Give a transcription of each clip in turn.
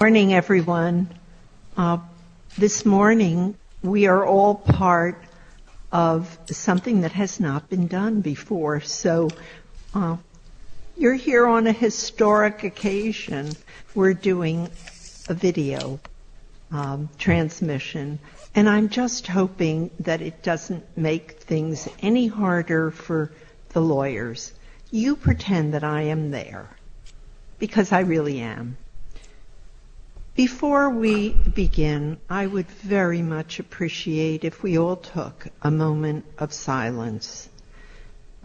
Good morning, everyone. This morning, we are all part of something that has not been done before, so you're here on a historic occasion. We're doing a video transmission, and I'm just hoping that it doesn't make things any harder for the lawyers. You pretend that I am there, because I really am. Before we begin, I would very much appreciate if we all took a moment of silence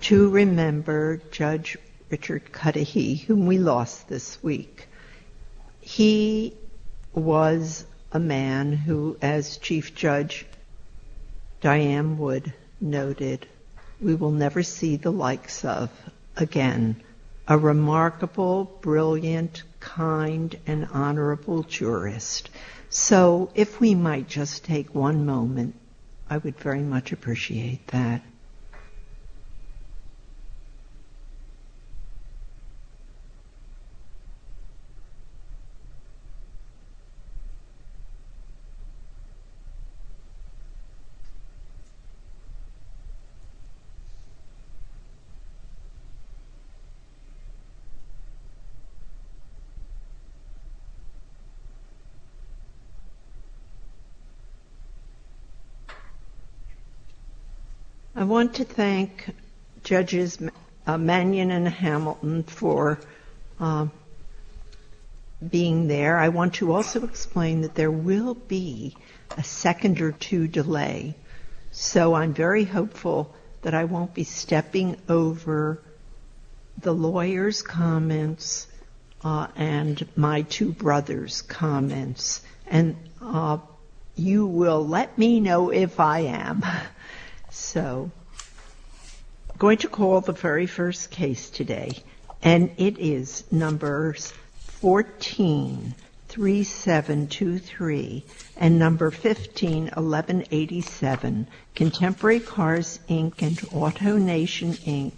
to remember Judge Richard Cudahy, whom we lost this week. He was a man who, as Chief Judge Diane Wood noted, we will never see the likes of again. A remarkable, brilliant, kind, and honorable jurist. So, if we might just take one moment, I would very much appreciate that. I want to thank Judges Mannion and Hamilton for being there. I want to also explain that there will be a second or two delay, so I'm very hopeful that I won't be stepping over the lawyers' comments and my two brothers' comments. And you will let me know if I am. So, I'm going to call the very first case today. And it is numbers 143723 and number 151187, Contemporary Cars, Inc. and Auto Nation, Inc.,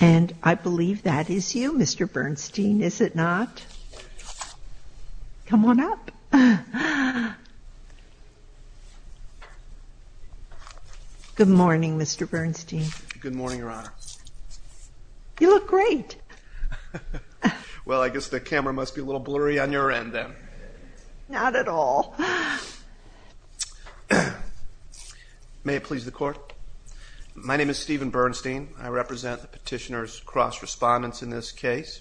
And I believe that is you, Mr. Bernstein, is it not? Come on up. Good morning, Mr. Bernstein. Good morning, Your Honor. You look great. Well, I guess the camera must be a little blurry on your end then. Not at all. May it please the Court. My name is Stephen Bernstein. I represent the petitioner's cross-respondents in this case.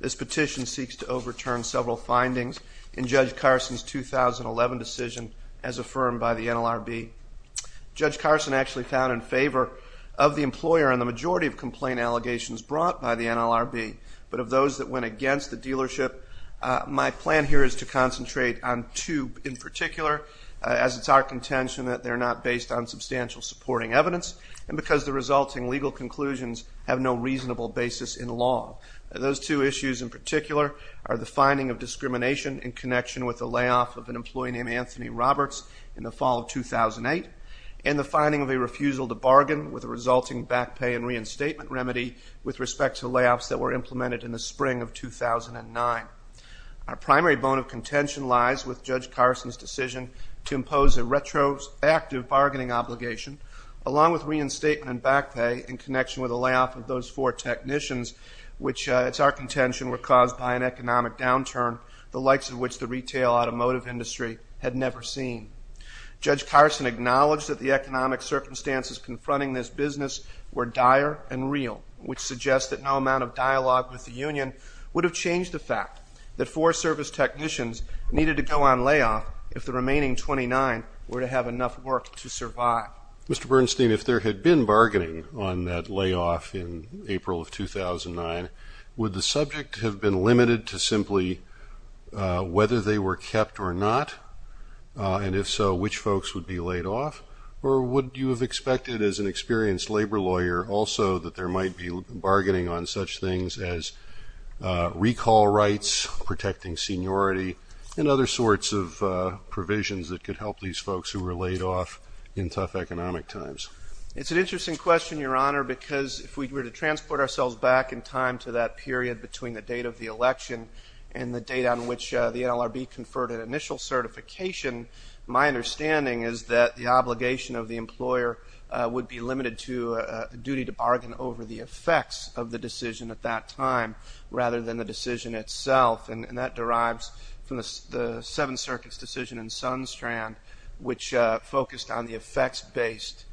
This petition seeks to overturn several findings in Judge Carson's 2011 decision as affirmed by the NLRB. Judge Carson actually found in favor of the employer in the majority of complaint allegations brought by the NLRB, but of those that went against the dealership, my plan here is to concentrate on two in particular, as it's our contention that they're not based on substantial supporting evidence, and because the resulting legal conclusions have no reasonable basis in law. Those two issues in particular are the finding of discrimination in connection with the layoff of an employee named Anthony Roberts in the fall of 2008, and the finding of a refusal to bargain with a resulting back pay and reinstatement remedy with respect to layoffs that were implemented in the spring of 2009. Our primary bone of contention lies with Judge Carson's decision to impose a retroactive bargaining obligation, along with reinstatement and back pay in connection with the layoff of those four technicians, which it's our contention were caused by an economic downturn the likes of which the retail automotive industry had never seen. Judge Carson acknowledged that the economic circumstances confronting this business were dire and real, which suggests that no amount of dialogue with the union would have changed the fact that four service technicians needed to go on layoff if the remaining 29 were to have enough work to survive. Mr. Bernstein, if there had been bargaining on that layoff in April of 2009, would the subject have been limited to simply whether they were kept or not? And if so, which folks would be laid off? Or would you have expected as an experienced labor lawyer also that there might be bargaining on such things as recall rights, protecting seniority, and other sorts of provisions that could help these folks who were laid off in tough economic times? It's an interesting question, Your Honor, because if we were to transport ourselves back in time to that period between the date of the election and the date on which the NLRB conferred an initial certification, my understanding is that the obligation of the employer would be limited to a duty to bargain over the effects of the decision at that time rather than the decision itself. And that derives from the Seventh Circuit's decision in Sunstrand, which focused on the effects-based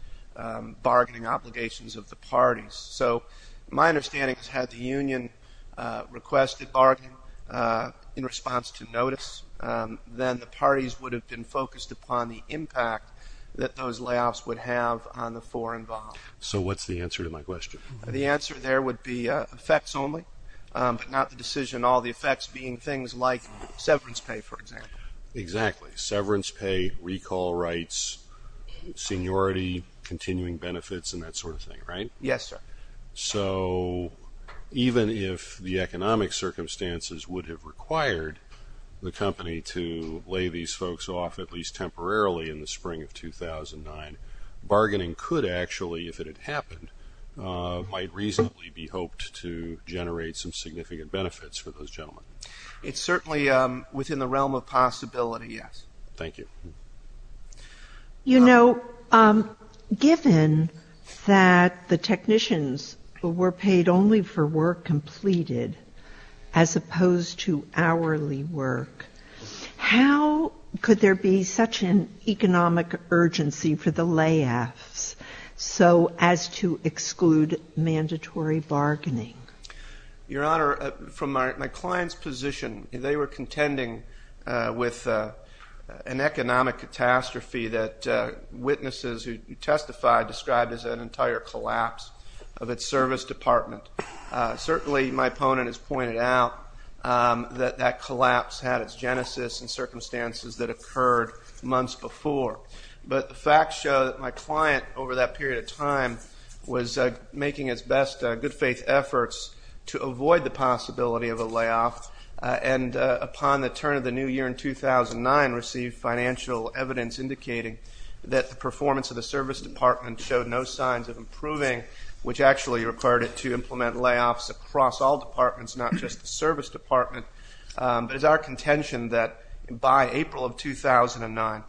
bargaining obligations of the parties. So my understanding is had the union requested bargaining in response to notice, then the parties would have been focused upon the impact that those layoffs would have on the four involved. So what's the answer to my question? The answer there would be effects only, but not the decision. All the effects being things like severance pay, for example. Exactly, severance pay, recall rights, seniority, continuing benefits, and that sort of thing, right? Yes, sir. So even if the economic circumstances would have required the company to lay these folks off, in the spring of 2009, bargaining could actually, if it had happened, might reasonably be hoped to generate some significant benefits for those gentlemen. It's certainly within the realm of possibility, yes. Thank you. You know, given that the technicians were paid only for work completed as opposed to hourly work, how could there be such an economic urgency for the layoffs so as to exclude mandatory bargaining? Your Honor, from my client's position, they were contending with an economic catastrophe that witnesses who testified described as an entire collapse of its service department. Certainly, my opponent has pointed out that that collapse had its genesis in circumstances that occurred months before. But the facts show that my client, over that period of time, was making its best good-faith efforts to avoid the possibility of a layoff, and upon the turn of the new year in 2009 received financial evidence indicating that the performance of the service department showed no signs of improving, which actually required it to implement layoffs across all departments, not just the service department. But it's our contention that by April of 2009,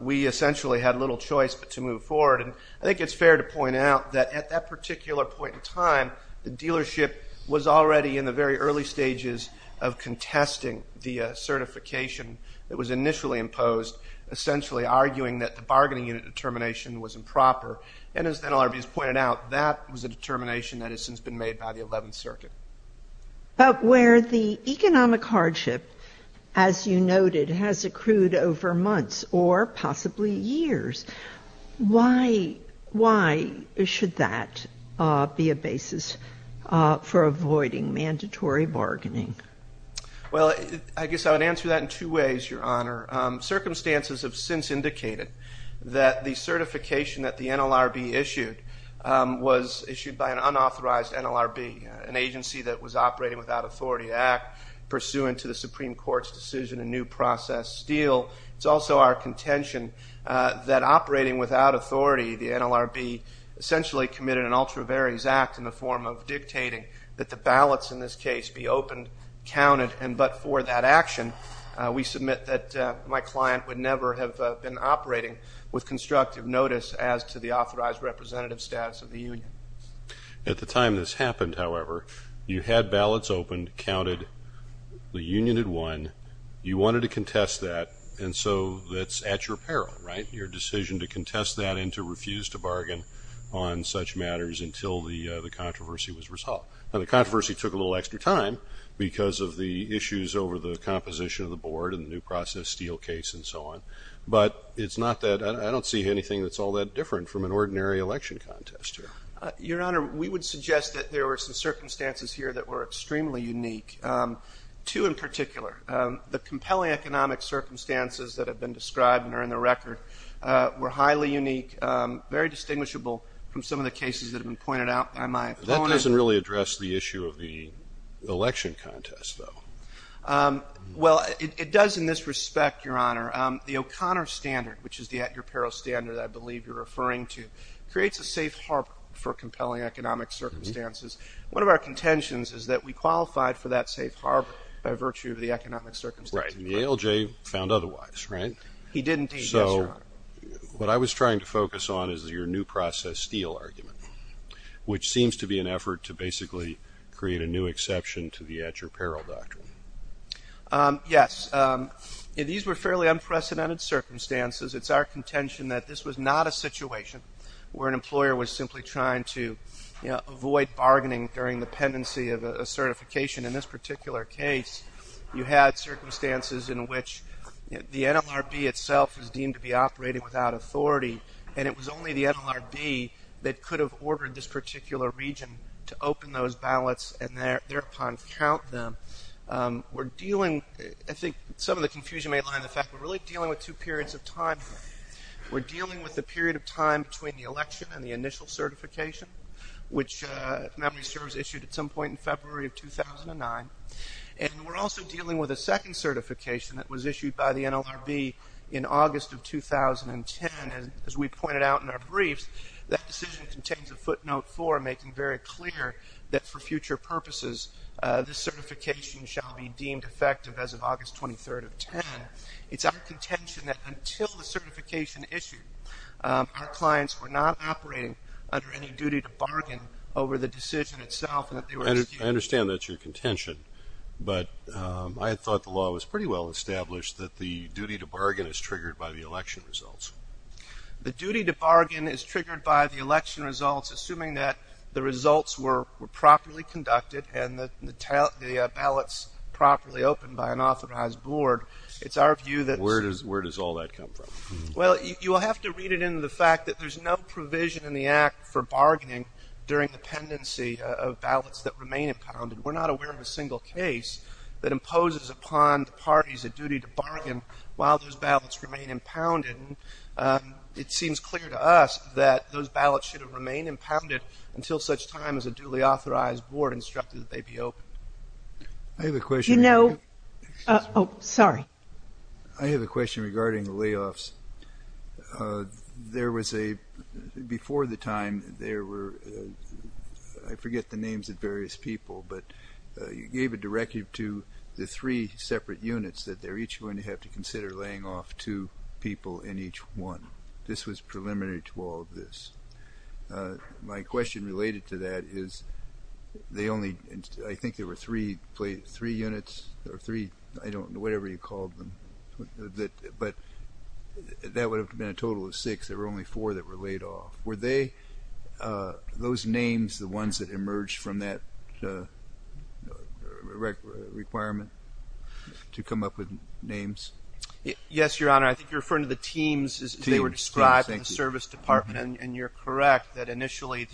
we essentially had little choice but to move forward. And I think it's fair to point out that at that particular point in time, the dealership was already in the very early stages of contesting the certification that was initially imposed, essentially arguing that the bargaining unit determination was improper. And as the NLRB has pointed out, that was a determination that has since been made by the 11th Circuit. But where the economic hardship, as you noted, has accrued over months or possibly years, why should that be a basis for avoiding mandatory bargaining? Well, I guess I would answer that in two ways, Your Honor. Circumstances have since indicated that the certification that the NLRB issued was issued by an unauthorized NLRB, an agency that was operating without authority to act pursuant to the Supreme Court's decision in New Process Steel. It's also our contention that operating without authority, the NLRB essentially committed an ultra varies act in the form of dictating that the ballots in this case be opened, counted, and but for that action, we submit that my client would never have been operating with constructive notice as to the authorized representative status of the union. At the time this happened, however, you had ballots opened, counted, the union had won, you wanted to contest that, and so that's at your peril, right, your decision to contest that and to refuse to bargain on such matters until the controversy was resolved. Now, the controversy took a little extra time because of the issues over the composition of the board and the New Process Steel case and so on, but it's not that, I don't see anything that's all that different from an ordinary election contest here. Your Honor, we would suggest that there were some circumstances here that were extremely unique, two in particular. The compelling economic circumstances that have been described and are in the record were highly unique, very distinguishable from some of the cases that have been pointed out by my opponent. That doesn't really address the issue of the election contest, though. Well, it does in this respect, Your Honor. The O'Connor standard, which is the at-your-peril standard I believe you're referring to, creates a safe harbor for compelling economic circumstances. One of our contentions is that we qualified for that safe harbor by virtue of the economic circumstances. Right, and the ALJ found otherwise, right? He did indeed, yes, Your Honor. What I was trying to focus on is your New Process Steel argument, which seems to be an effort to basically create a new exception to the at-your-peril doctrine. Yes. These were fairly unprecedented circumstances. It's our contention that this was not a situation where an employer was simply trying to avoid bargaining during the pendency of a certification. In this particular case, you had circumstances in which the NLRB itself was deemed to be operating without authority, and it was only the NLRB that could have ordered this particular region to open those ballots and thereupon count them. I think some of the confusion may lie in the fact we're really dealing with two periods of time. We're dealing with the period of time between the election and the initial certification, which memory serves issued at some point in February of 2009, and we're also dealing with a second certification that was issued by the NLRB in August of 2010. As we pointed out in our briefs, that decision contains a footnote for making very clear that for future purposes this certification shall be deemed effective as of August 23rd of 2010. It's our contention that until the certification issued, our clients were not operating under any duty to bargain over the decision itself. I understand that's your contention, but I thought the law was pretty well established that the duty to bargain is triggered by the election results. The duty to bargain is triggered by the election results, assuming that the results were properly conducted and the ballots properly opened by an authorized board. It's our view that... Where does all that come from? Well, you will have to read it into the fact that there's no provision in the Act for bargaining during the pendency of ballots that remain impounded. We're not aware of a single case that imposes upon the parties a duty to bargain while those ballots remain impounded. It seems clear to us that those ballots should have remained impounded until such time as a duly authorized board instructed that they be opened. I have a question. You know... Oh, sorry. I have a question regarding layoffs. There was a... Before the time, there were... I forget the names of various people, but you gave a directive to the three separate units that they're each going to have to consider laying off two people in each one. This was preliminary to all of this. My question related to that is they only... But that would have been a total of six. There were only four that were laid off. Were they, those names, the ones that emerged from that requirement to come up with names? Yes, Your Honor. I think you're referring to the teams as they were described in the service department, and you're correct that initially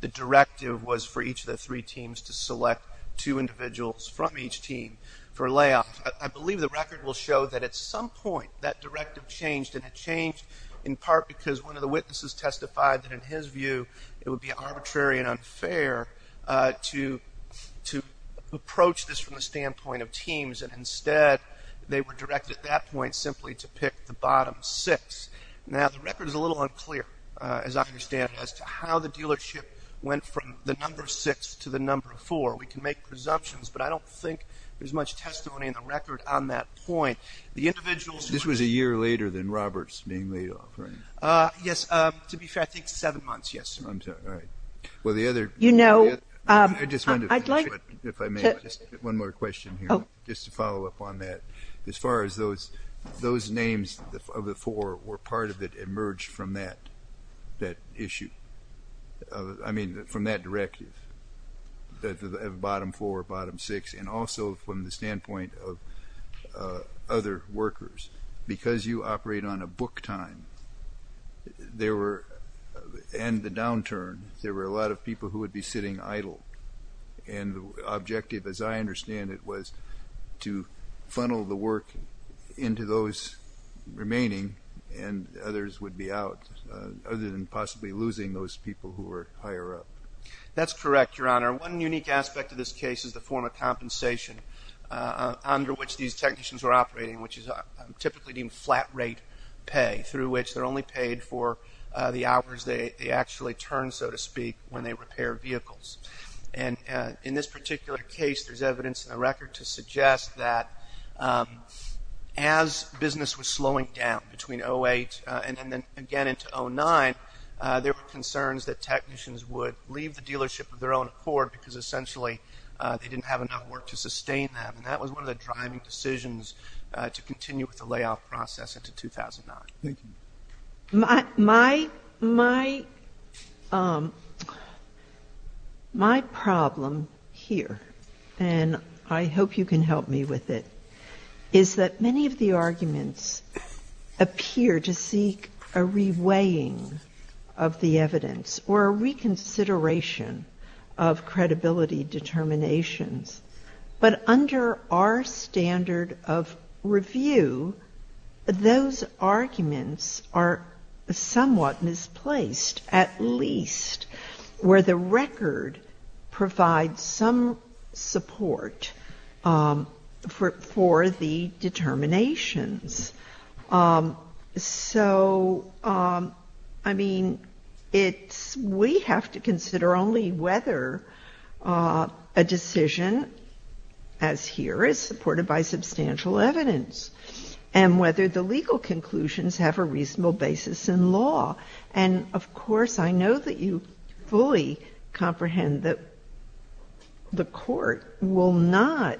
the directive was for each of the three teams to select two individuals from each team for layoffs. I believe the record will show that at some point that directive changed, and it changed in part because one of the witnesses testified that, in his view, it would be arbitrary and unfair to approach this from the standpoint of teams, and instead they were directed at that point simply to pick the bottom six. Now, the record is a little unclear, as I understand it, as to how the dealership went from the number six to the number four. We can make presumptions, but I don't think there's much testimony in the record on that point. The individuals... This was a year later than Robert's being laid off, right? Yes. To be fair, I think seven months. Yes, sir. All right. Well, the other... You know, I'd like to... I just wanted to finish, if I may, just one more question here just to follow up on that. As far as those names of the four, were part of it emerged from that issue? I mean, from that directive, the bottom four, bottom six, and also from the standpoint of other workers. Because you operate on a book time, and the downturn, there were a lot of people who would be sitting idle, and the objective, as I understand it, was to funnel the work into those remaining, and others would be out other than possibly losing those people who were higher up. That's correct, Your Honor. One unique aspect of this case is the form of compensation under which these technicians were operating, which is typically deemed flat rate pay, through which they're only paid for the hours they actually turn, so to speak, when they repair vehicles. And in this particular case, there's evidence in the record to suggest that as business was slowing down, between 2008 and then again into 2009, there were concerns that technicians would leave the dealership of their own accord, because essentially they didn't have enough work to sustain them. And that was one of the driving decisions to continue with the layoff process into 2009. Thank you. My problem here, and I hope you can help me with it, is that many of the arguments appear to seek a reweighing of the evidence, or a reconsideration of credibility determinations. But under our standard of review, those arguments are somewhat misplaced, at least, where the record provides some support for the determinations. So, I mean, we have to consider only whether a decision, as here, is supported by substantial evidence, and whether the legal conclusions have a reasonable basis in law. And, of course, I know that you fully comprehend that the Court will not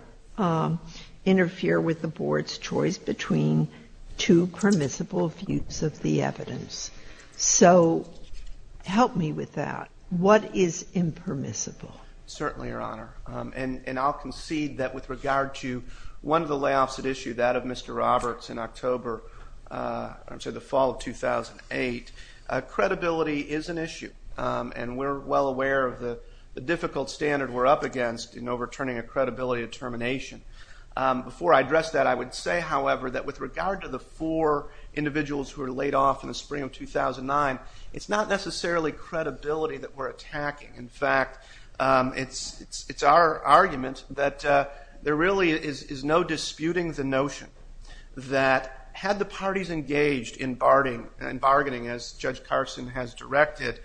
interfere with the Board's choice between two permissible views of the evidence. So help me with that. What is impermissible? Certainly, Your Honor. And I'll concede that with regard to one of the layoffs at issue, that of Mr. Roberts in October, I'm sorry, the fall of 2008, credibility is an issue. And we're well aware of the difficult standard we're up against in overturning a credibility determination. Before I address that, I would say, however, that with regard to the four individuals who were laid off in the spring of 2009, it's not necessarily credibility that we're attacking. In fact, it's our argument that there really is no disputing the notion that had the parties engaged in bargaining, as Judge Carson has directed,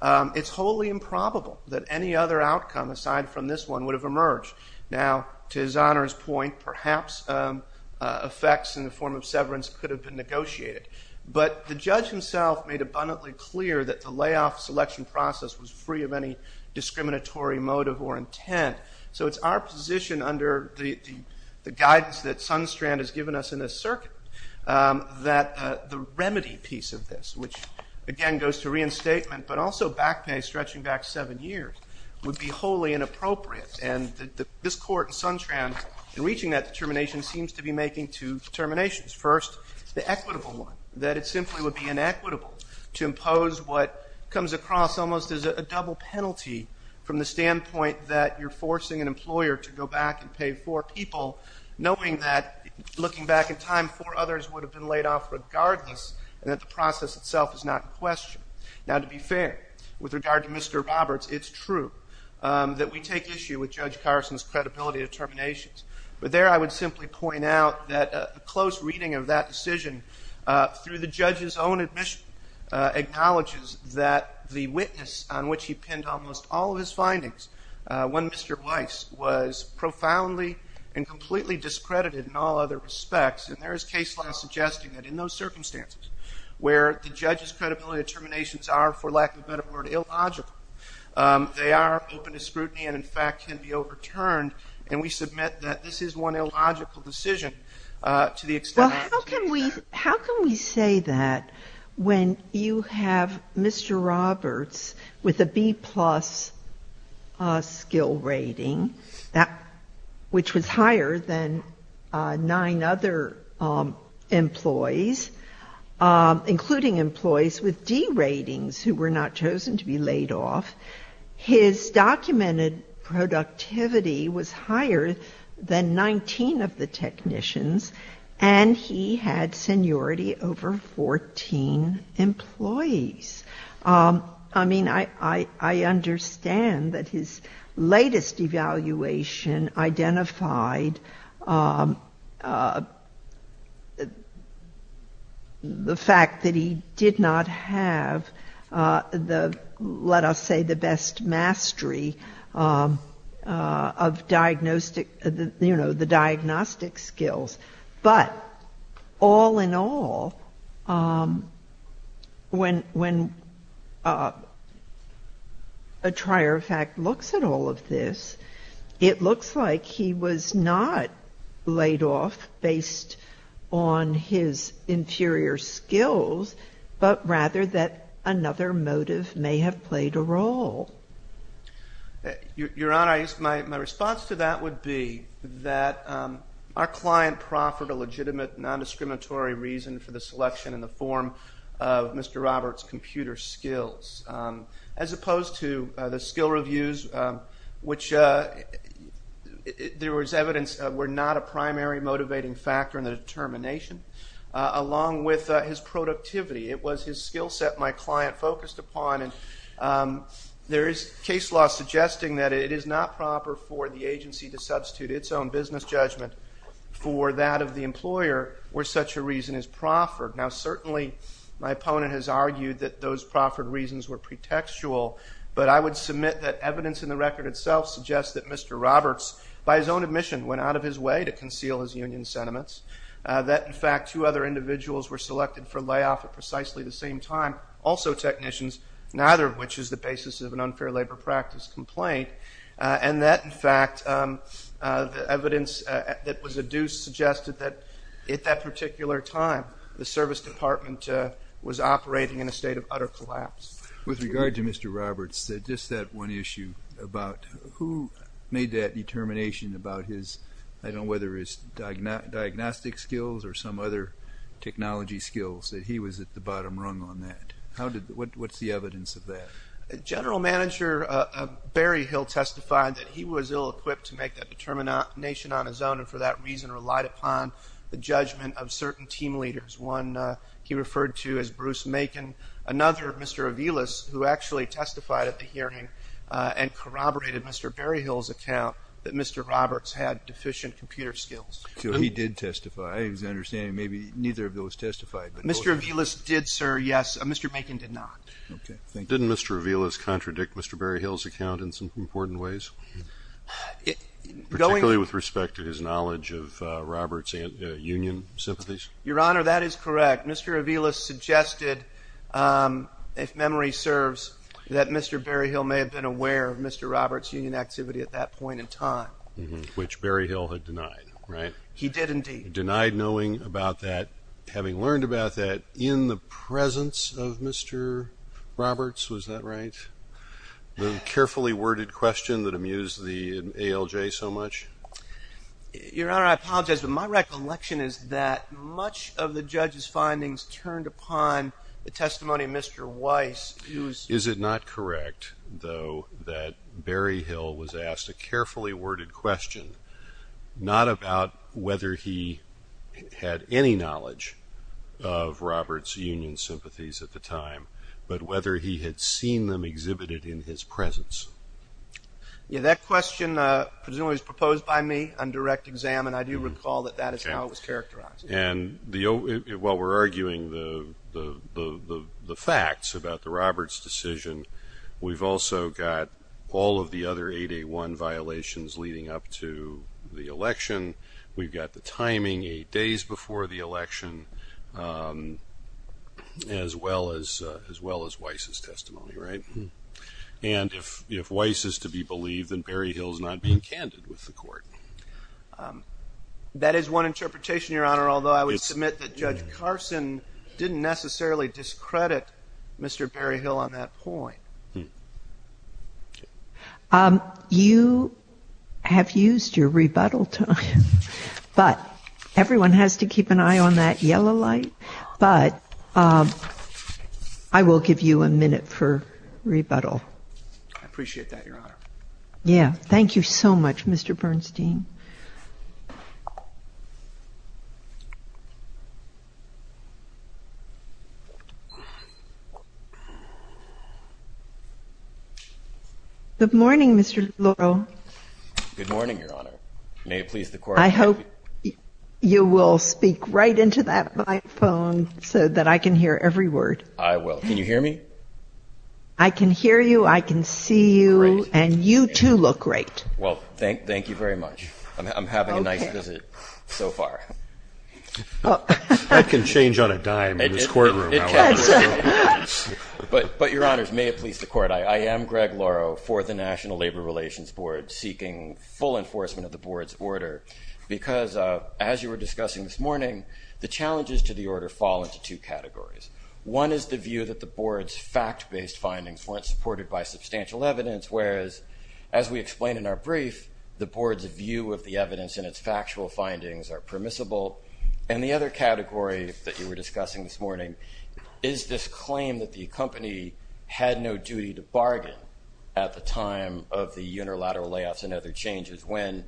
it's wholly improbable that any other outcome aside from this one would have emerged. Now, to His Honor's point, perhaps effects in the form of severance could have been negotiated. But the judge himself made abundantly clear that the layoff selection process was free of any discriminatory motive or intent. So it's our position under the guidance that Sunstrand has given us in this circuit that the remedy piece of this, which, again, goes to reinstatement, but also back pay stretching back seven years, would be wholly inappropriate. And this Court and Sunstrand, in reaching that determination, seems to be making two determinations. First, the equitable one, that it simply would be inequitable to impose what comes across almost as a double penalty from the standpoint that you're forcing an employer to go back and pay four people, knowing that, looking back in time, four others would have been laid off regardless, and that the process itself is not in question. Now, to be fair, with regard to Mr. Roberts, it's true that we take issue with Judge Carson's credibility determinations. But there I would simply point out that a close reading of that decision, through the judge's own admission, acknowledges that the witness on which he penned almost all of his findings, when Mr. Weiss was profoundly and completely discredited in all other respects, and there is case law suggesting that in those circumstances where the judge's credibility determinations are, for lack of a better word, illogical, they are open to scrutiny and, in fact, can be overturned, and we submit that this is one illogical decision to the extent that How can we say that when you have Mr. Roberts with a B plus skill rating, which was higher than nine other employees, including employees with D ratings, who were not chosen to be laid off, his documented productivity was higher than 19 of the technicians, and he had seniority over 14 employees. I mean, I understand that his latest evaluation identified the fact that he did not have, let us say, the best mastery of the diagnostic skills. But all in all, when a trier of fact looks at all of this, it looks like he was not laid off based on his inferior skills, but rather that another motive may have played a role. Your Honor, my response to that would be that our client proffered a legitimate, non-discriminatory reason for the selection in the form of Mr. Roberts' computer skills, as opposed to the skill reviews, which there was evidence were not a primary motivating factor in the determination, along with his productivity. It was his skill set my client focused upon, and there is case law suggesting that it is not proper for the agency to substitute its own business judgment for that of the employer, where such a reason is proffered. Now, certainly my opponent has argued that those proffered reasons were pretextual, but I would submit that evidence in the record itself suggests that Mr. Roberts, by his own admission, went out of his way to conceal his union sentiments, that in fact two other individuals were selected for layoff at precisely the same time, also technicians, neither of which is the basis of an unfair labor practice complaint, and that in fact the evidence that was adduced suggested that at that particular time, the service department was operating in a state of utter collapse. With regard to Mr. Roberts, just that one issue about who made that determination about his, I don't know whether his diagnostic skills or some other technology skills, that he was at the bottom rung on that. What's the evidence of that? General Manager Berryhill testified that he was ill-equipped to make that determination on his own, and for that reason relied upon the judgment of certain team leaders, one he referred to as Bruce Macon, another, Mr. Aviles, who actually testified at the hearing and corroborated Mr. Berryhill's account that Mr. Roberts had deficient computer skills. He did testify. I understand maybe neither of those testified. Mr. Aviles did, sir, yes. Mr. Macon did not. Didn't Mr. Aviles contradict Mr. Berryhill's account in some important ways, particularly with respect to his knowledge of Roberts' union sympathies? Your Honor, that is correct. Mr. Aviles suggested, if memory serves, that Mr. Berryhill may have been aware of Mr. Roberts' union activity at that point in time. Which Berryhill had denied, right? He did indeed. Denied knowing about that, having learned about that in the presence of Mr. Roberts, was that right? The carefully worded question that amused the ALJ so much? Your Honor, I apologize, but my recollection is that much of the judge's findings turned upon the testimony of Mr. Weiss. Is it not correct, though, that Berryhill was asked a carefully worded question, not about whether he had any knowledge of Roberts' union sympathies at the time, but whether he had seen them exhibited in his presence? Yeah, that question presumably was proposed by me on direct exam, and I do recall that that is how it was characterized. And while we're arguing the facts about the Roberts decision, we've also got all of the other 881 violations leading up to the election. We've got the timing eight days before the election, as well as Weiss' testimony, right? And if Weiss is to be believed, then Berryhill is not being candid with the Court. That is one interpretation, Your Honor, although I would submit that Judge Carson didn't necessarily discredit Mr. Berryhill on that point. You have used your rebuttal time, but everyone has to keep an eye on that yellow light. But I will give you a minute for rebuttal. I appreciate that, Your Honor. Yeah, thank you so much, Mr. Bernstein. Good morning, Mr. Laurel. Good morning, Your Honor. May it please the Court. I hope you will speak right into that microphone so that I can hear every word. I will. Can you hear me? I can hear you. I can see you. And you, too, look great. Well, thank you very much. I'm having a nice visit so far. That can change on a dime in this courtroom. But, Your Honors, may it please the Court, I am Greg Lauro for the National Labor Relations Board, seeking full enforcement of the Board's order. Because, as you were discussing this morning, the challenges to the order fall into two categories. One is the view that the Board's fact-based findings weren't supported by substantial evidence, whereas, as we explained in our brief, the Board's view of the evidence and its factual findings are permissible. And the other category that you were discussing this morning is this claim that the company had no duty to bargain at the time of the unilateral layoffs and other changes, when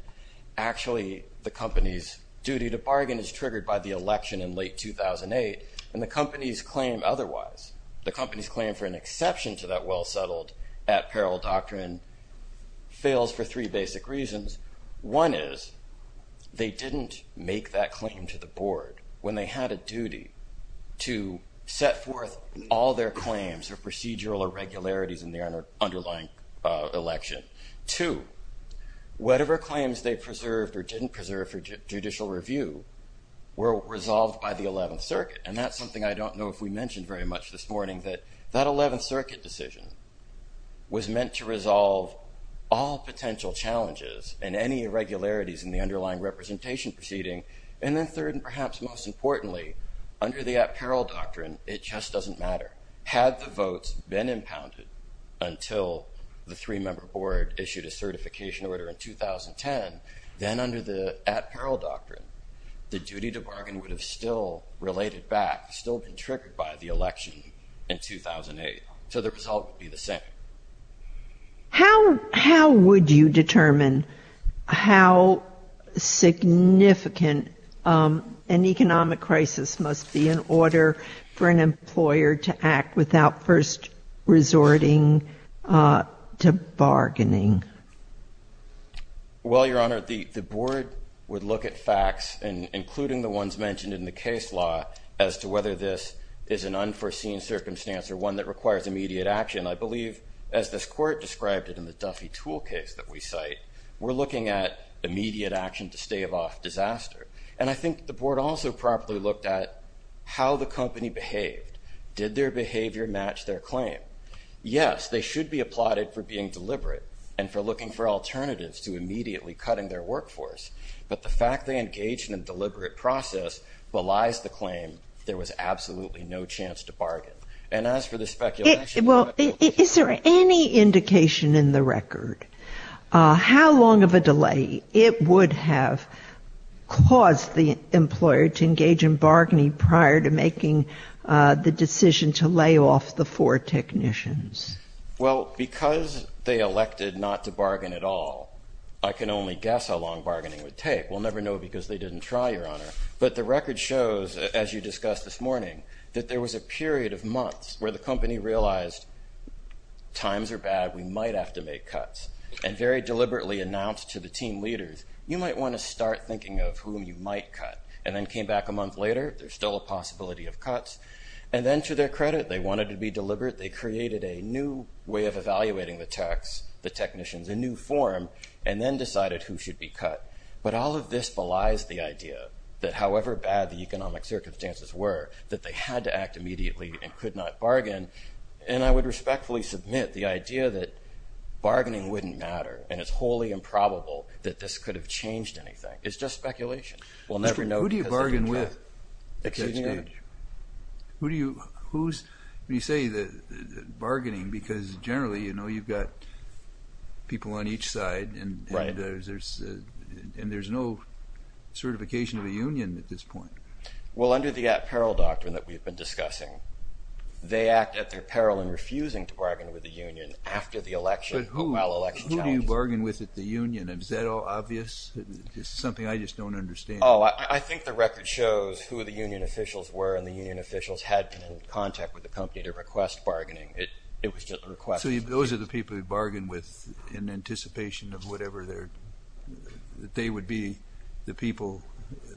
actually the company's duty to bargain is triggered by the election in late 2008. And the company's claim otherwise, the company's claim for an exception to that well-settled at-parallel doctrine, fails for three basic reasons. One is they didn't make that claim to the Board when they had a duty to set forth all their claims or procedural irregularities in the underlying election. Two, whatever claims they preserved or didn't preserve for judicial review were resolved by the 11th Circuit. And that's something I don't know if we mentioned very much this morning, that that 11th Circuit decision was meant to resolve all potential challenges and any irregularities in the underlying representation proceeding. And then third, and perhaps most importantly, under the at-parallel doctrine, it just doesn't matter. Had the votes been impounded until the three-member board issued a certification order in 2010, then under the at-parallel doctrine, the duty to bargain would have still related back, still been triggered by the election in 2008. So the result would be the same. How would you determine how significant an economic crisis must be in order for an employer to act without first resorting to bargaining? Well, Your Honor, the Board would look at facts, including the ones mentioned in the case law, as to whether this is an unforeseen circumstance or one that requires immediate action. I believe, as this Court described it in the Duffy tool case that we cite, we're looking at immediate action to stave off disaster. And I think the Board also properly looked at how the company behaved. Did their behavior match their claim? Yes, they should be applauded for being deliberate and for looking for alternatives to immediately cutting their workforce. But the fact they engaged in a deliberate process belies the claim there was absolutely no chance to bargain. Well, is there any indication in the record how long of a delay it would have caused the employer to engage in bargaining prior to making the decision to lay off the four technicians? Well, because they elected not to bargain at all, I can only guess how long bargaining would take. We'll never know because they didn't try, Your Honor. But it took months where the company realized times are bad, we might have to make cuts. And very deliberately announced to the team leaders, you might want to start thinking of whom you might cut. And then came back a month later, there's still a possibility of cuts. And then to their credit, they wanted to be deliberate. They created a new way of evaluating the techs, the technicians, a new form, and then decided who should be cut. But all of this belies the idea that however bad the economic circumstances were, that they had to act immediately and could not bargain. And I would respectfully submit the idea that bargaining wouldn't matter and it's wholly improbable that this could have changed anything. It's just speculation. We'll never know because they didn't try. Who do you bargain with? Excuse me, Your Honor. When you say bargaining, because generally you've got people on each side and there's no certification of a union at this point. Well, under the at-peril doctrine that we've been discussing, they act at their peril in refusing to bargain with the union after the election. But who do you bargain with at the union? Is that all obvious? It's something I just don't understand. Oh, I think the record shows who the union officials were and the union officials had been in contact with the company to request bargaining. It was just a request. So those are the people you bargain with in anticipation of whatever they would be the people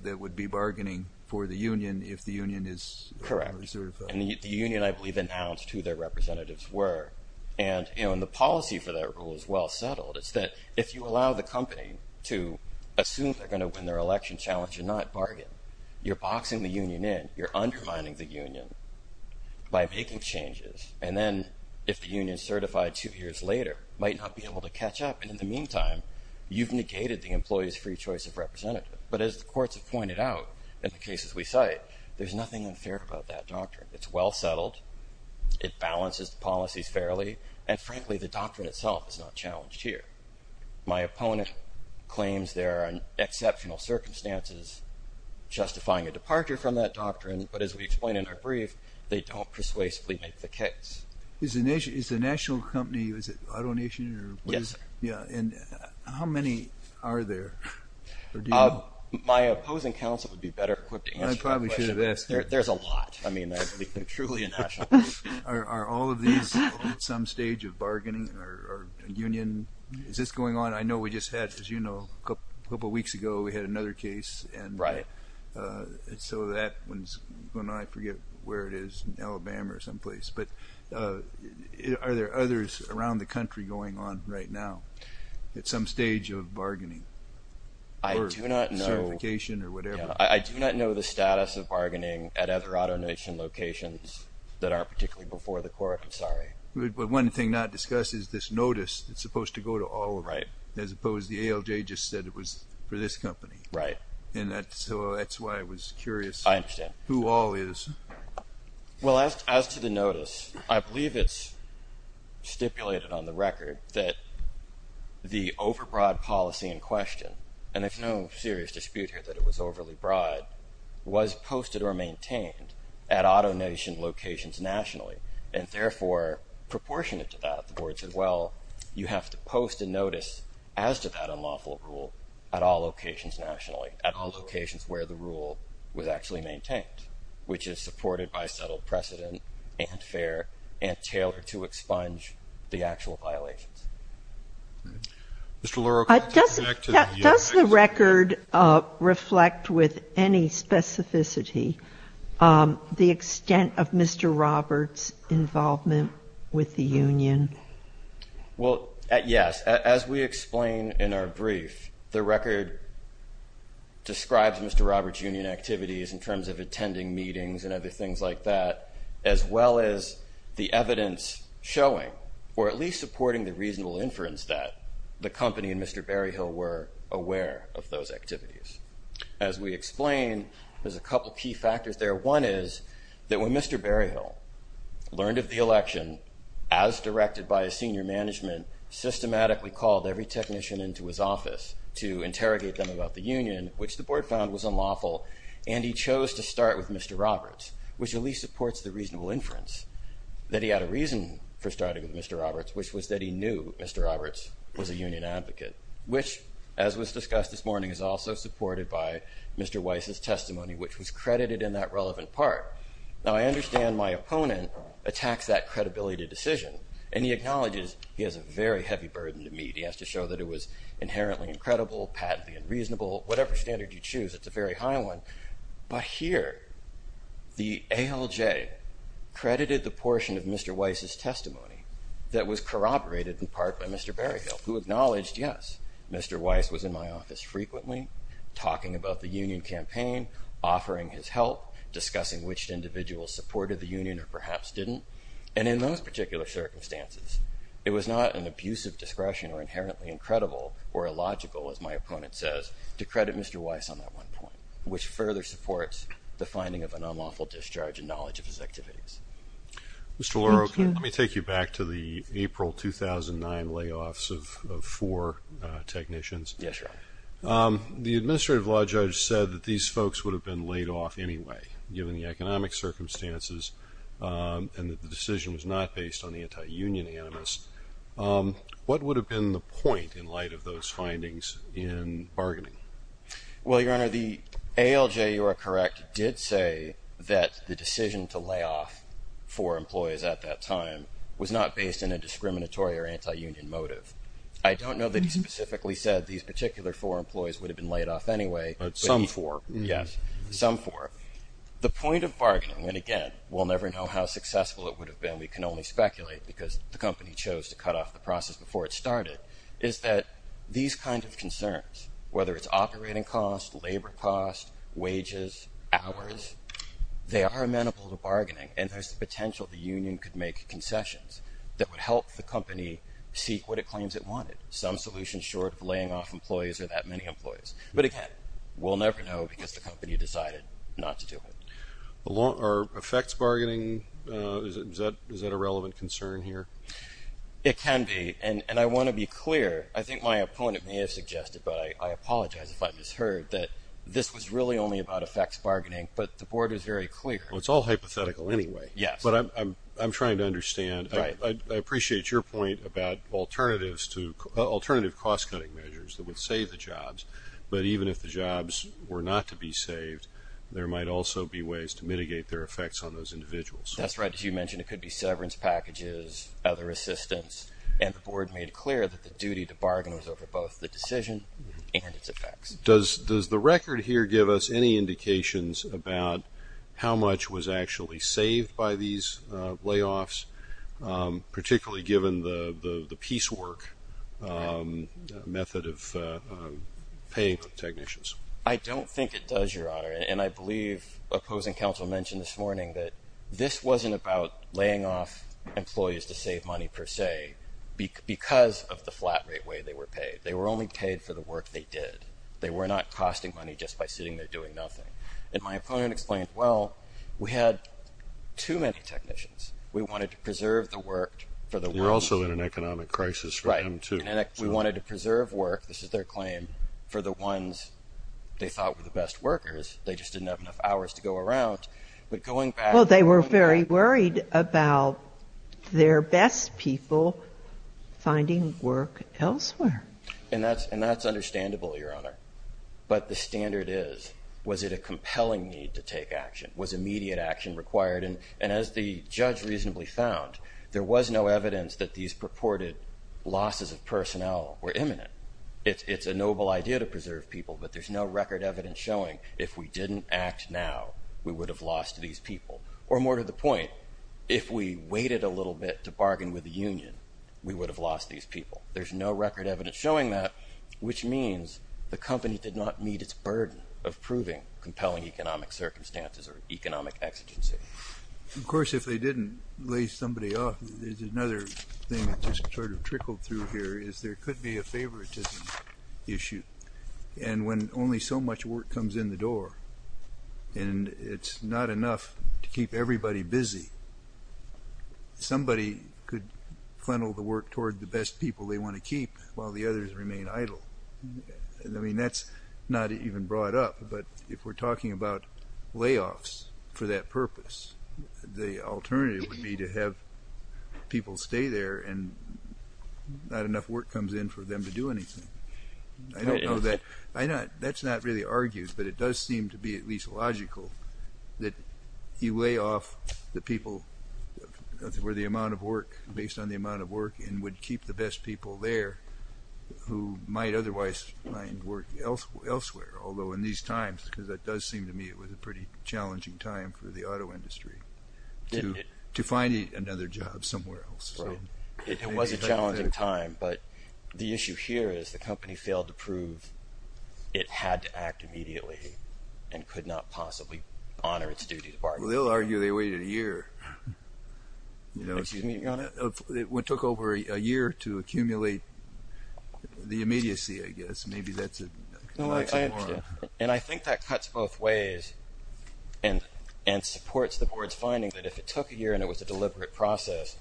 that would be bargaining for the union if the union is certified? Correct. And the union, I believe, announced who their representatives were. And the policy for that rule is well settled. It's that if you allow the company to assume they're going to win their election challenge and not bargain, you're boxing the union in. You're undermining the union by making changes. And then if the union certified two years later might not be able to catch up. And in the meantime, you've negated the employee's free choice of representative. But as the courts have pointed out in the cases we cite, there's nothing unfair about that doctrine. It's well settled. It balances the policies fairly. And frankly, the doctrine itself is not challenged here. My opponent claims there are exceptional circumstances justifying a departure from that doctrine. But as we explain in our brief, they don't persuasively make the case. Is the national company, is it AutoNation? Yes. And how many are there? My opposing counsel would be better equipped to answer that question. There's a lot. I mean, they're truly a national company. Are all of these at some stage of bargaining or union? Is this going on? I know we just had, as you know, a couple of weeks ago we had another case. I forget where it is, Alabama or someplace. Are there others around the country going on right now at some stage of bargaining? I do not know. I do not know the status of bargaining at other AutoNation locations that aren't particularly before the court. I'm sorry. But one thing not discussed is this notice that's supposed to go to all of them. As opposed to the ALJ just said it was for this company. Right. And that's why I was curious. I understand. Who all is. Well, as to the notice, I believe it's stipulated on the record that the overbroad policy in question, and there's no serious dispute here that it was overly broad, was posted or maintained at AutoNation locations nationally and therefore proportionate to that. The board said, well, you have to post a notice as to that unlawful rule at all locations nationally, at all locations where the rule was actually maintained, which is supported by settled precedent and fair and tailored to expunge the actual violations. Mr. Leroux. Does the record reflect with any specificity the extent of Mr. Roberts' involvement with the union? Well, yes. As we explain in our brief, the record describes Mr. Roberts' union activities in terms of attending meetings and other things like that, as well as the evidence showing, or at least supporting the reasonable inference that, the company and Mr. Berryhill were aware of those activities. As we explain, there's a couple of key factors there. One is that when Mr. Berryhill learned of the election, as directed by his senior management, systematically called every technician into his office to interrogate them about the union, which the board found was unlawful, and he chose to start with Mr. Roberts, which at least supports the reasonable inference that he had a reason for starting with Mr. Roberts, which was that he knew Mr. Roberts was a union advocate, which, as was discussed this morning, is also supported by Mr. Weiss' testimony, which was credited in that relevant part. Now, I understand my opponent attacks that credibility decision, and he acknowledges he has a very heavy burden to meet. He has to show that it was inherently incredible, patently unreasonable. Whatever standard you choose, it's a very high one. But here, the ALJ credited the portion of Mr. Weiss' testimony that was corroborated in part by Mr. Berryhill, who acknowledged, yes, Mr. Weiss was in my office frequently, talking about the union campaign, offering his help, discussing which individuals supported the union or perhaps didn't. And in those particular circumstances, it was not an abusive discretion or inherently incredible or illogical, as my opponent says, to credit Mr. Weiss on that one point, which further supports the finding of an unlawful discharge in knowledge of his activities. Mr. Loro, can I take you back to the April 2009 layoffs of four technicians? Yes, Your Honor. The administrative law judge said that these folks would have been laid off anyway, given the economic circumstances and that the decision was not based on the anti-union animus. What would have been the point in light of those findings in bargaining? Well, Your Honor, the ALJ, you are correct, did say that the decision to lay off four employees at that time was not based in a discriminatory or anti-union motive. I don't know that he specifically said these particular four employees would have been laid off anyway. But some four. Yes, some four. The point of bargaining, and again, we'll never know how successful it would have been. We can only speculate because the company chose to cut off the process before it started, is that these kinds of concerns, whether it's operating costs, labor costs, wages, hours, they are amenable to bargaining, and there's the potential the union could make concessions that would help the company seek what it claims it wanted, some solution short of laying off employees or that many employees. But again, we'll never know because the company decided not to do it. Affects bargaining, is that a relevant concern here? It can be, and I want to be clear. I think my opponent may have suggested, but I apologize if I misheard, that this was really only about effects bargaining, but the board is very clear. Well, it's all hypothetical anyway. Yes. But I'm trying to understand. Right. I appreciate your point about alternative cost-cutting measures that would save the jobs, but even if the jobs were not to be saved, there might also be ways to mitigate their effects on those individuals. That's right. As you mentioned, it could be severance packages, other assistance, and the board made clear that the duty to bargain was over both the decision and its effects. Does the record here give us any indications about how much was actually saved by these layoffs, particularly given the piecework method of paying technicians? I don't think it does, Your Honor, and I believe opposing counsel mentioned this morning that this wasn't about laying off employees to save money, per se, because of the flat rate way they were paid. They were only paid for the work they did. They were not costing money just by sitting there doing nothing. And my opponent explained, well, we had too many technicians. We wanted to preserve the work for the workers. You're also in an economic crisis for them, too. Right. We wanted to preserve work, this is their claim, for the ones they thought were the best workers. They just didn't have enough hours to go around. Well, they were very worried about their best people finding work elsewhere. And that's understandable, Your Honor. But the standard is, was it a compelling need to take action? Was immediate action required? And as the judge reasonably found, there was no evidence that these purported losses of personnel were imminent. It's a noble idea to preserve people, but there's no record evidence showing if we didn't act now, we would have lost these people. Or more to the point, if we waited a little bit to bargain with the union, we would have lost these people. There's no record evidence showing that, which means the company did not meet its burden of proving compelling economic circumstances or economic exigency. Of course, if they didn't lay somebody off, there's another thing that just sort of trickled through here, is there could be a favoritism issue. And when only so much work comes in the door, and it's not enough to keep everybody busy, somebody could funnel the work toward the best people they want to keep while the others remain idle. I mean, that's not even brought up, but if we're talking about layoffs for that purpose, the alternative would be to have people stay there and not enough work comes in for them to do anything. I don't know that, that's not really argued, but it does seem to be at least logical that you lay off the people that were the amount of work, based on the amount of work, and would keep the best people there who might otherwise find work elsewhere. Although in these times, because it does seem to me it was a pretty challenging time for the auto industry to find another job somewhere else. It was a challenging time, but the issue here is the company failed to prove it had to act immediately and could not possibly honor its duty to bargain. They'll argue they waited a year. Excuse me, Your Honor? It took over a year to accumulate the immediacy, I guess. And I think that cuts both ways and supports the Board's finding that if it took a year and it was a deliberate process,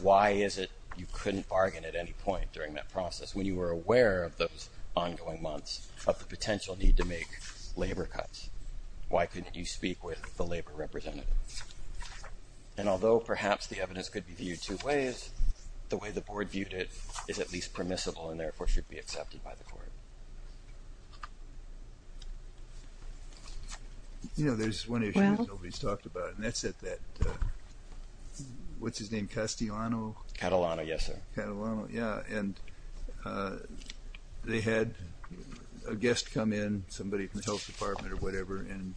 why is it you couldn't bargain at any point during that process, when you were aware of those ongoing months of the potential need to make labor cuts? Why couldn't you speak with the labor representative? And although perhaps the evidence could be viewed two ways, the way the Board viewed it is at least permissible and therefore should be accepted by the Court. You know, there's one issue that nobody's talked about, and that's at that, what's his name, Castellano? Catalano, yes, sir. Catalano, yeah. And they had a guest come in, somebody from the Health Department or whatever, and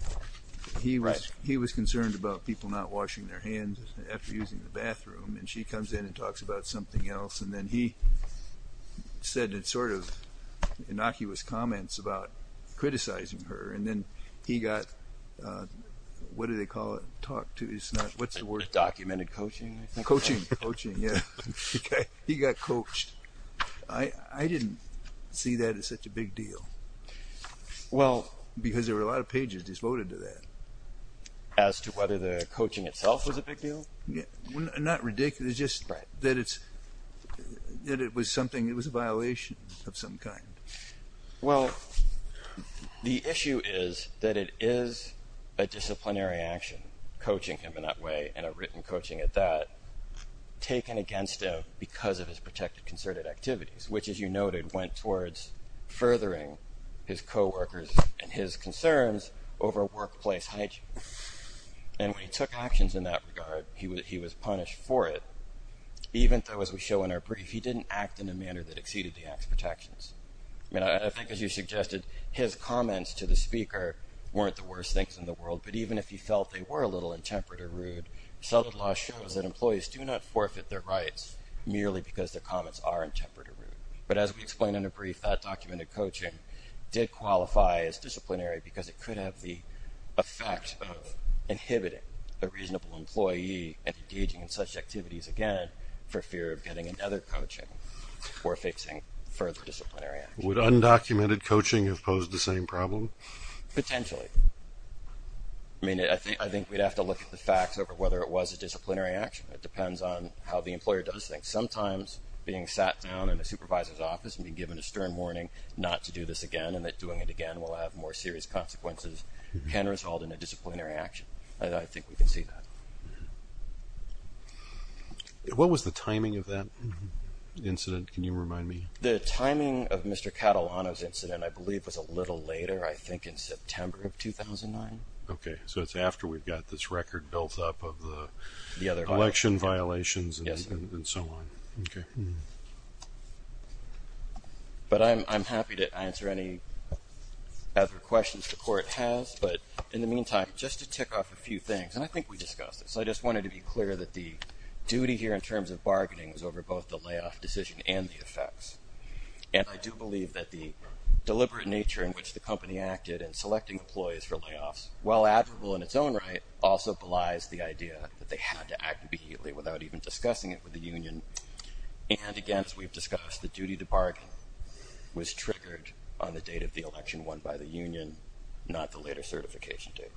he was concerned about people not washing their hands after using the bathroom, and she comes in and talks about something else, and then he said sort of innocuous comments about criticizing her, and then he got, what do they call it, talked to, it's not, what's the word? Documented coaching, I think. Coaching, coaching, yeah. He got coached. I didn't see that as such a big deal. Well. Because there were a lot of pages devoted to that. As to whether the coaching itself was a big deal? Not ridiculous, just that it's, that it was something, it was a violation of some kind. Well, the issue is that it is a disciplinary action, coaching him in that way and a written coaching at that, taken against him because of his protected concerted activities, which, as you noted, went towards furthering his coworkers and his concerns over workplace hygiene. And when he took actions in that regard, he was punished for it, even though, as we show in our brief, he didn't act in a manner that exceeded the act's protections. I mean, I think, as you suggested, his comments to the speaker weren't the worst things in the world, but even if he felt they were a little intemperate or rude, solid law shows that employees do not forfeit their rights merely because their comments are intemperate or rude. But as we explain in a brief, that documented coaching did qualify as disciplinary because it could have the effect of inhibiting a reasonable employee engaging in such activities again for fear of getting another coaching or fixing further disciplinary action. Would undocumented coaching have posed the same problem? Potentially. I mean, I think we'd have to look at the facts over whether it was a disciplinary action. It depends on how the employer does things. Sometimes being sat down in a supervisor's office and being given a stern warning not to do this again and that doing it again will have more serious consequences can result in a disciplinary action. I think we can see that. What was the timing of that incident? Can you remind me? The timing of Mr. Catalano's incident, I believe, was a little later, I think in September of 2009. Okay. So it's after we've got this record built up of the election violations and so on. Yes. Okay. But I'm happy to answer any other questions the Court has. But in the meantime, just to tick off a few things, and I think we discussed this, I just wanted to be clear that the duty here in terms of bargaining was over both the layoff decision and the effects. And I do believe that the deliberate nature in which the company acted in selecting employees for layoffs, while admirable in its own right, also belies the idea that they had to act immediately without even discussing it with the union. And again, as we've discussed, the duty to bargain was triggered on the date of the election won by the union, not the later certification date.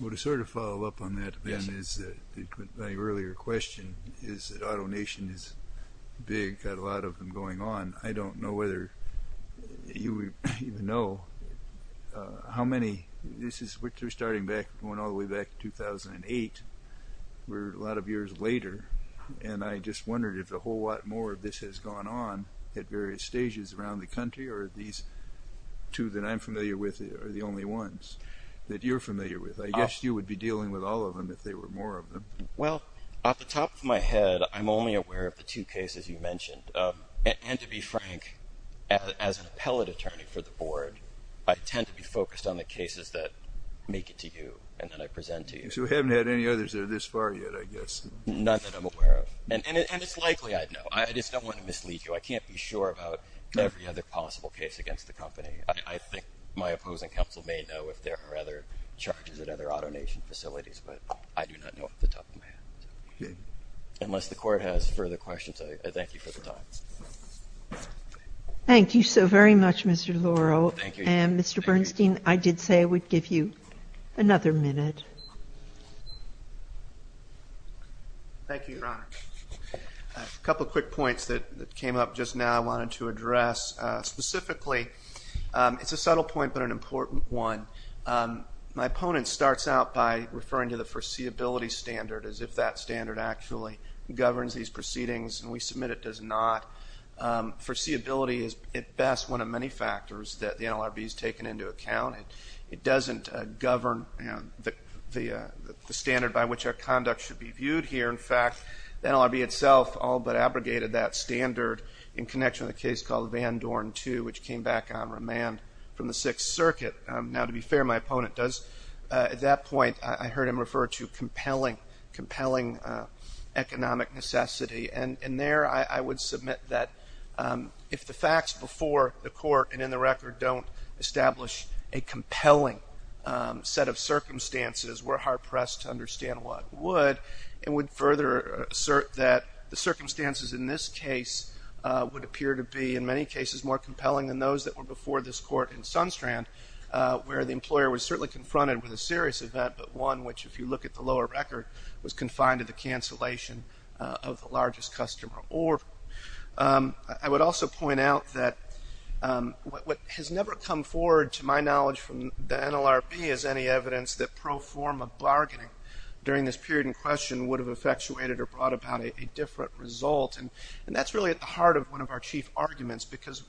Well, to sort of follow up on that, Ben, is that my earlier question is that AutoNation is big, got a lot of them going on. I don't know whether you even know how many. This is starting back, going all the way back to 2008. We're a lot of years later, and I just wondered if a whole lot more of this has gone on at various stages around the country, or these two that I'm familiar with are the only ones that you're familiar with. I guess you would be dealing with all of them if there were more of them. Well, off the top of my head, I'm only aware of the two cases you mentioned. And to be frank, as an appellate attorney for the Board, I tend to be focused on the cases that make it to you and that I present to you. So we haven't had any others that are this far yet, I guess. None that I'm aware of. And it's likely I'd know. I just don't want to mislead you. I can't be sure about every other possible case against the company. I think my opposing counsel may know if there are other charges at other AutoNation facilities, but I do not know off the top of my head. Unless the Court has further questions, I thank you for the time. Thank you so very much, Mr. Laurel. Thank you. Mr. Bernstein, I did say I would give you another minute. Thank you, Your Honor. A couple of quick points that came up just now I wanted to address. Specifically, it's a subtle point but an important one. My opponent starts out by referring to the foreseeability standard as if that standard actually governs these proceedings, and we submit it does not. Foreseeability is, at best, one of many factors that the NLRB has taken into account. It doesn't govern the standard by which our conduct should be viewed here. In fact, the NLRB itself all but abrogated that standard in connection with a case called Van Dorn II, which came back on remand from the Sixth Circuit. Now, to be fair, my opponent does at that point, I heard him refer to compelling economic necessity. And there I would submit that if the facts before the court and in the record don't establish a compelling set of circumstances, we're hard-pressed to understand what would. And would further assert that the circumstances in this case would appear to be, in many cases, more compelling than those that were before this court in Sunstrand, where the employer was certainly confronted with a serious event, but one which, if you look at the lower record, was confined to the cancellation of the largest customer order. I would also point out that what has never come forward, to my knowledge, from the NLRB is any evidence that pro forma bargaining during this period in question would have effectuated or brought about a different result. And that's really at the heart of one of our chief arguments, because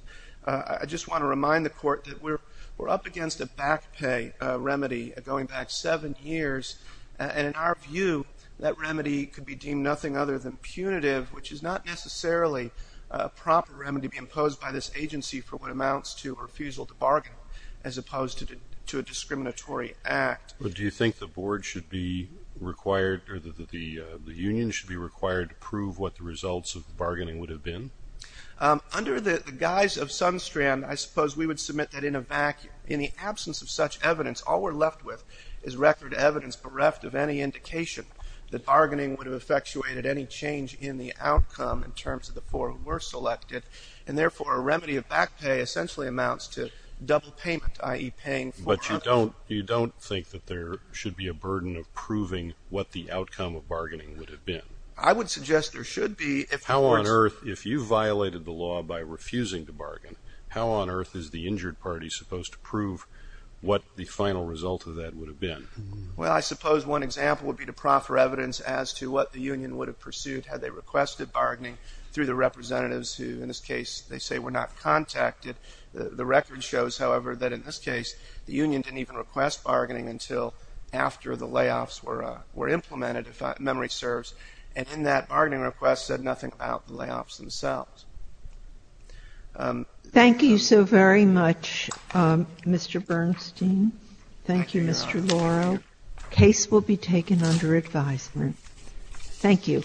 I just want to remind the court that we're up against a back pay remedy going back seven years. And in our view, that remedy could be deemed nothing other than punitive, which is not necessarily a proper remedy imposed by this agency for what amounts to a refusal to bargain, as opposed to a discriminatory act. But do you think the board should be required, or the union should be required to prove what the results of the bargaining would have been? Under the guise of Sunstrand, I suppose we would submit that in a vacuum. In essence, all we're left with is record evidence bereft of any indication that bargaining would have effectuated any change in the outcome in terms of the four who were selected. And therefore, a remedy of back pay essentially amounts to double payment, i.e. paying four hundred. But you don't think that there should be a burden of proving what the outcome of bargaining would have been? I would suggest there should be. How on earth, if you violated the law by refusing to bargain, how on earth is the injured party supposed to prove what the final result of that would have been? Well, I suppose one example would be to proffer evidence as to what the union would have pursued had they requested bargaining through the representatives who, in this case, they say were not contacted. The record shows, however, that in this case, the union didn't even request bargaining until after the layoffs were implemented, if memory serves. And in that bargaining request said nothing about the layoffs themselves. Thank you so very much, Mr. Bernstein. Thank you, Mr. Laurel. The case will be taken under advisement. Thank you.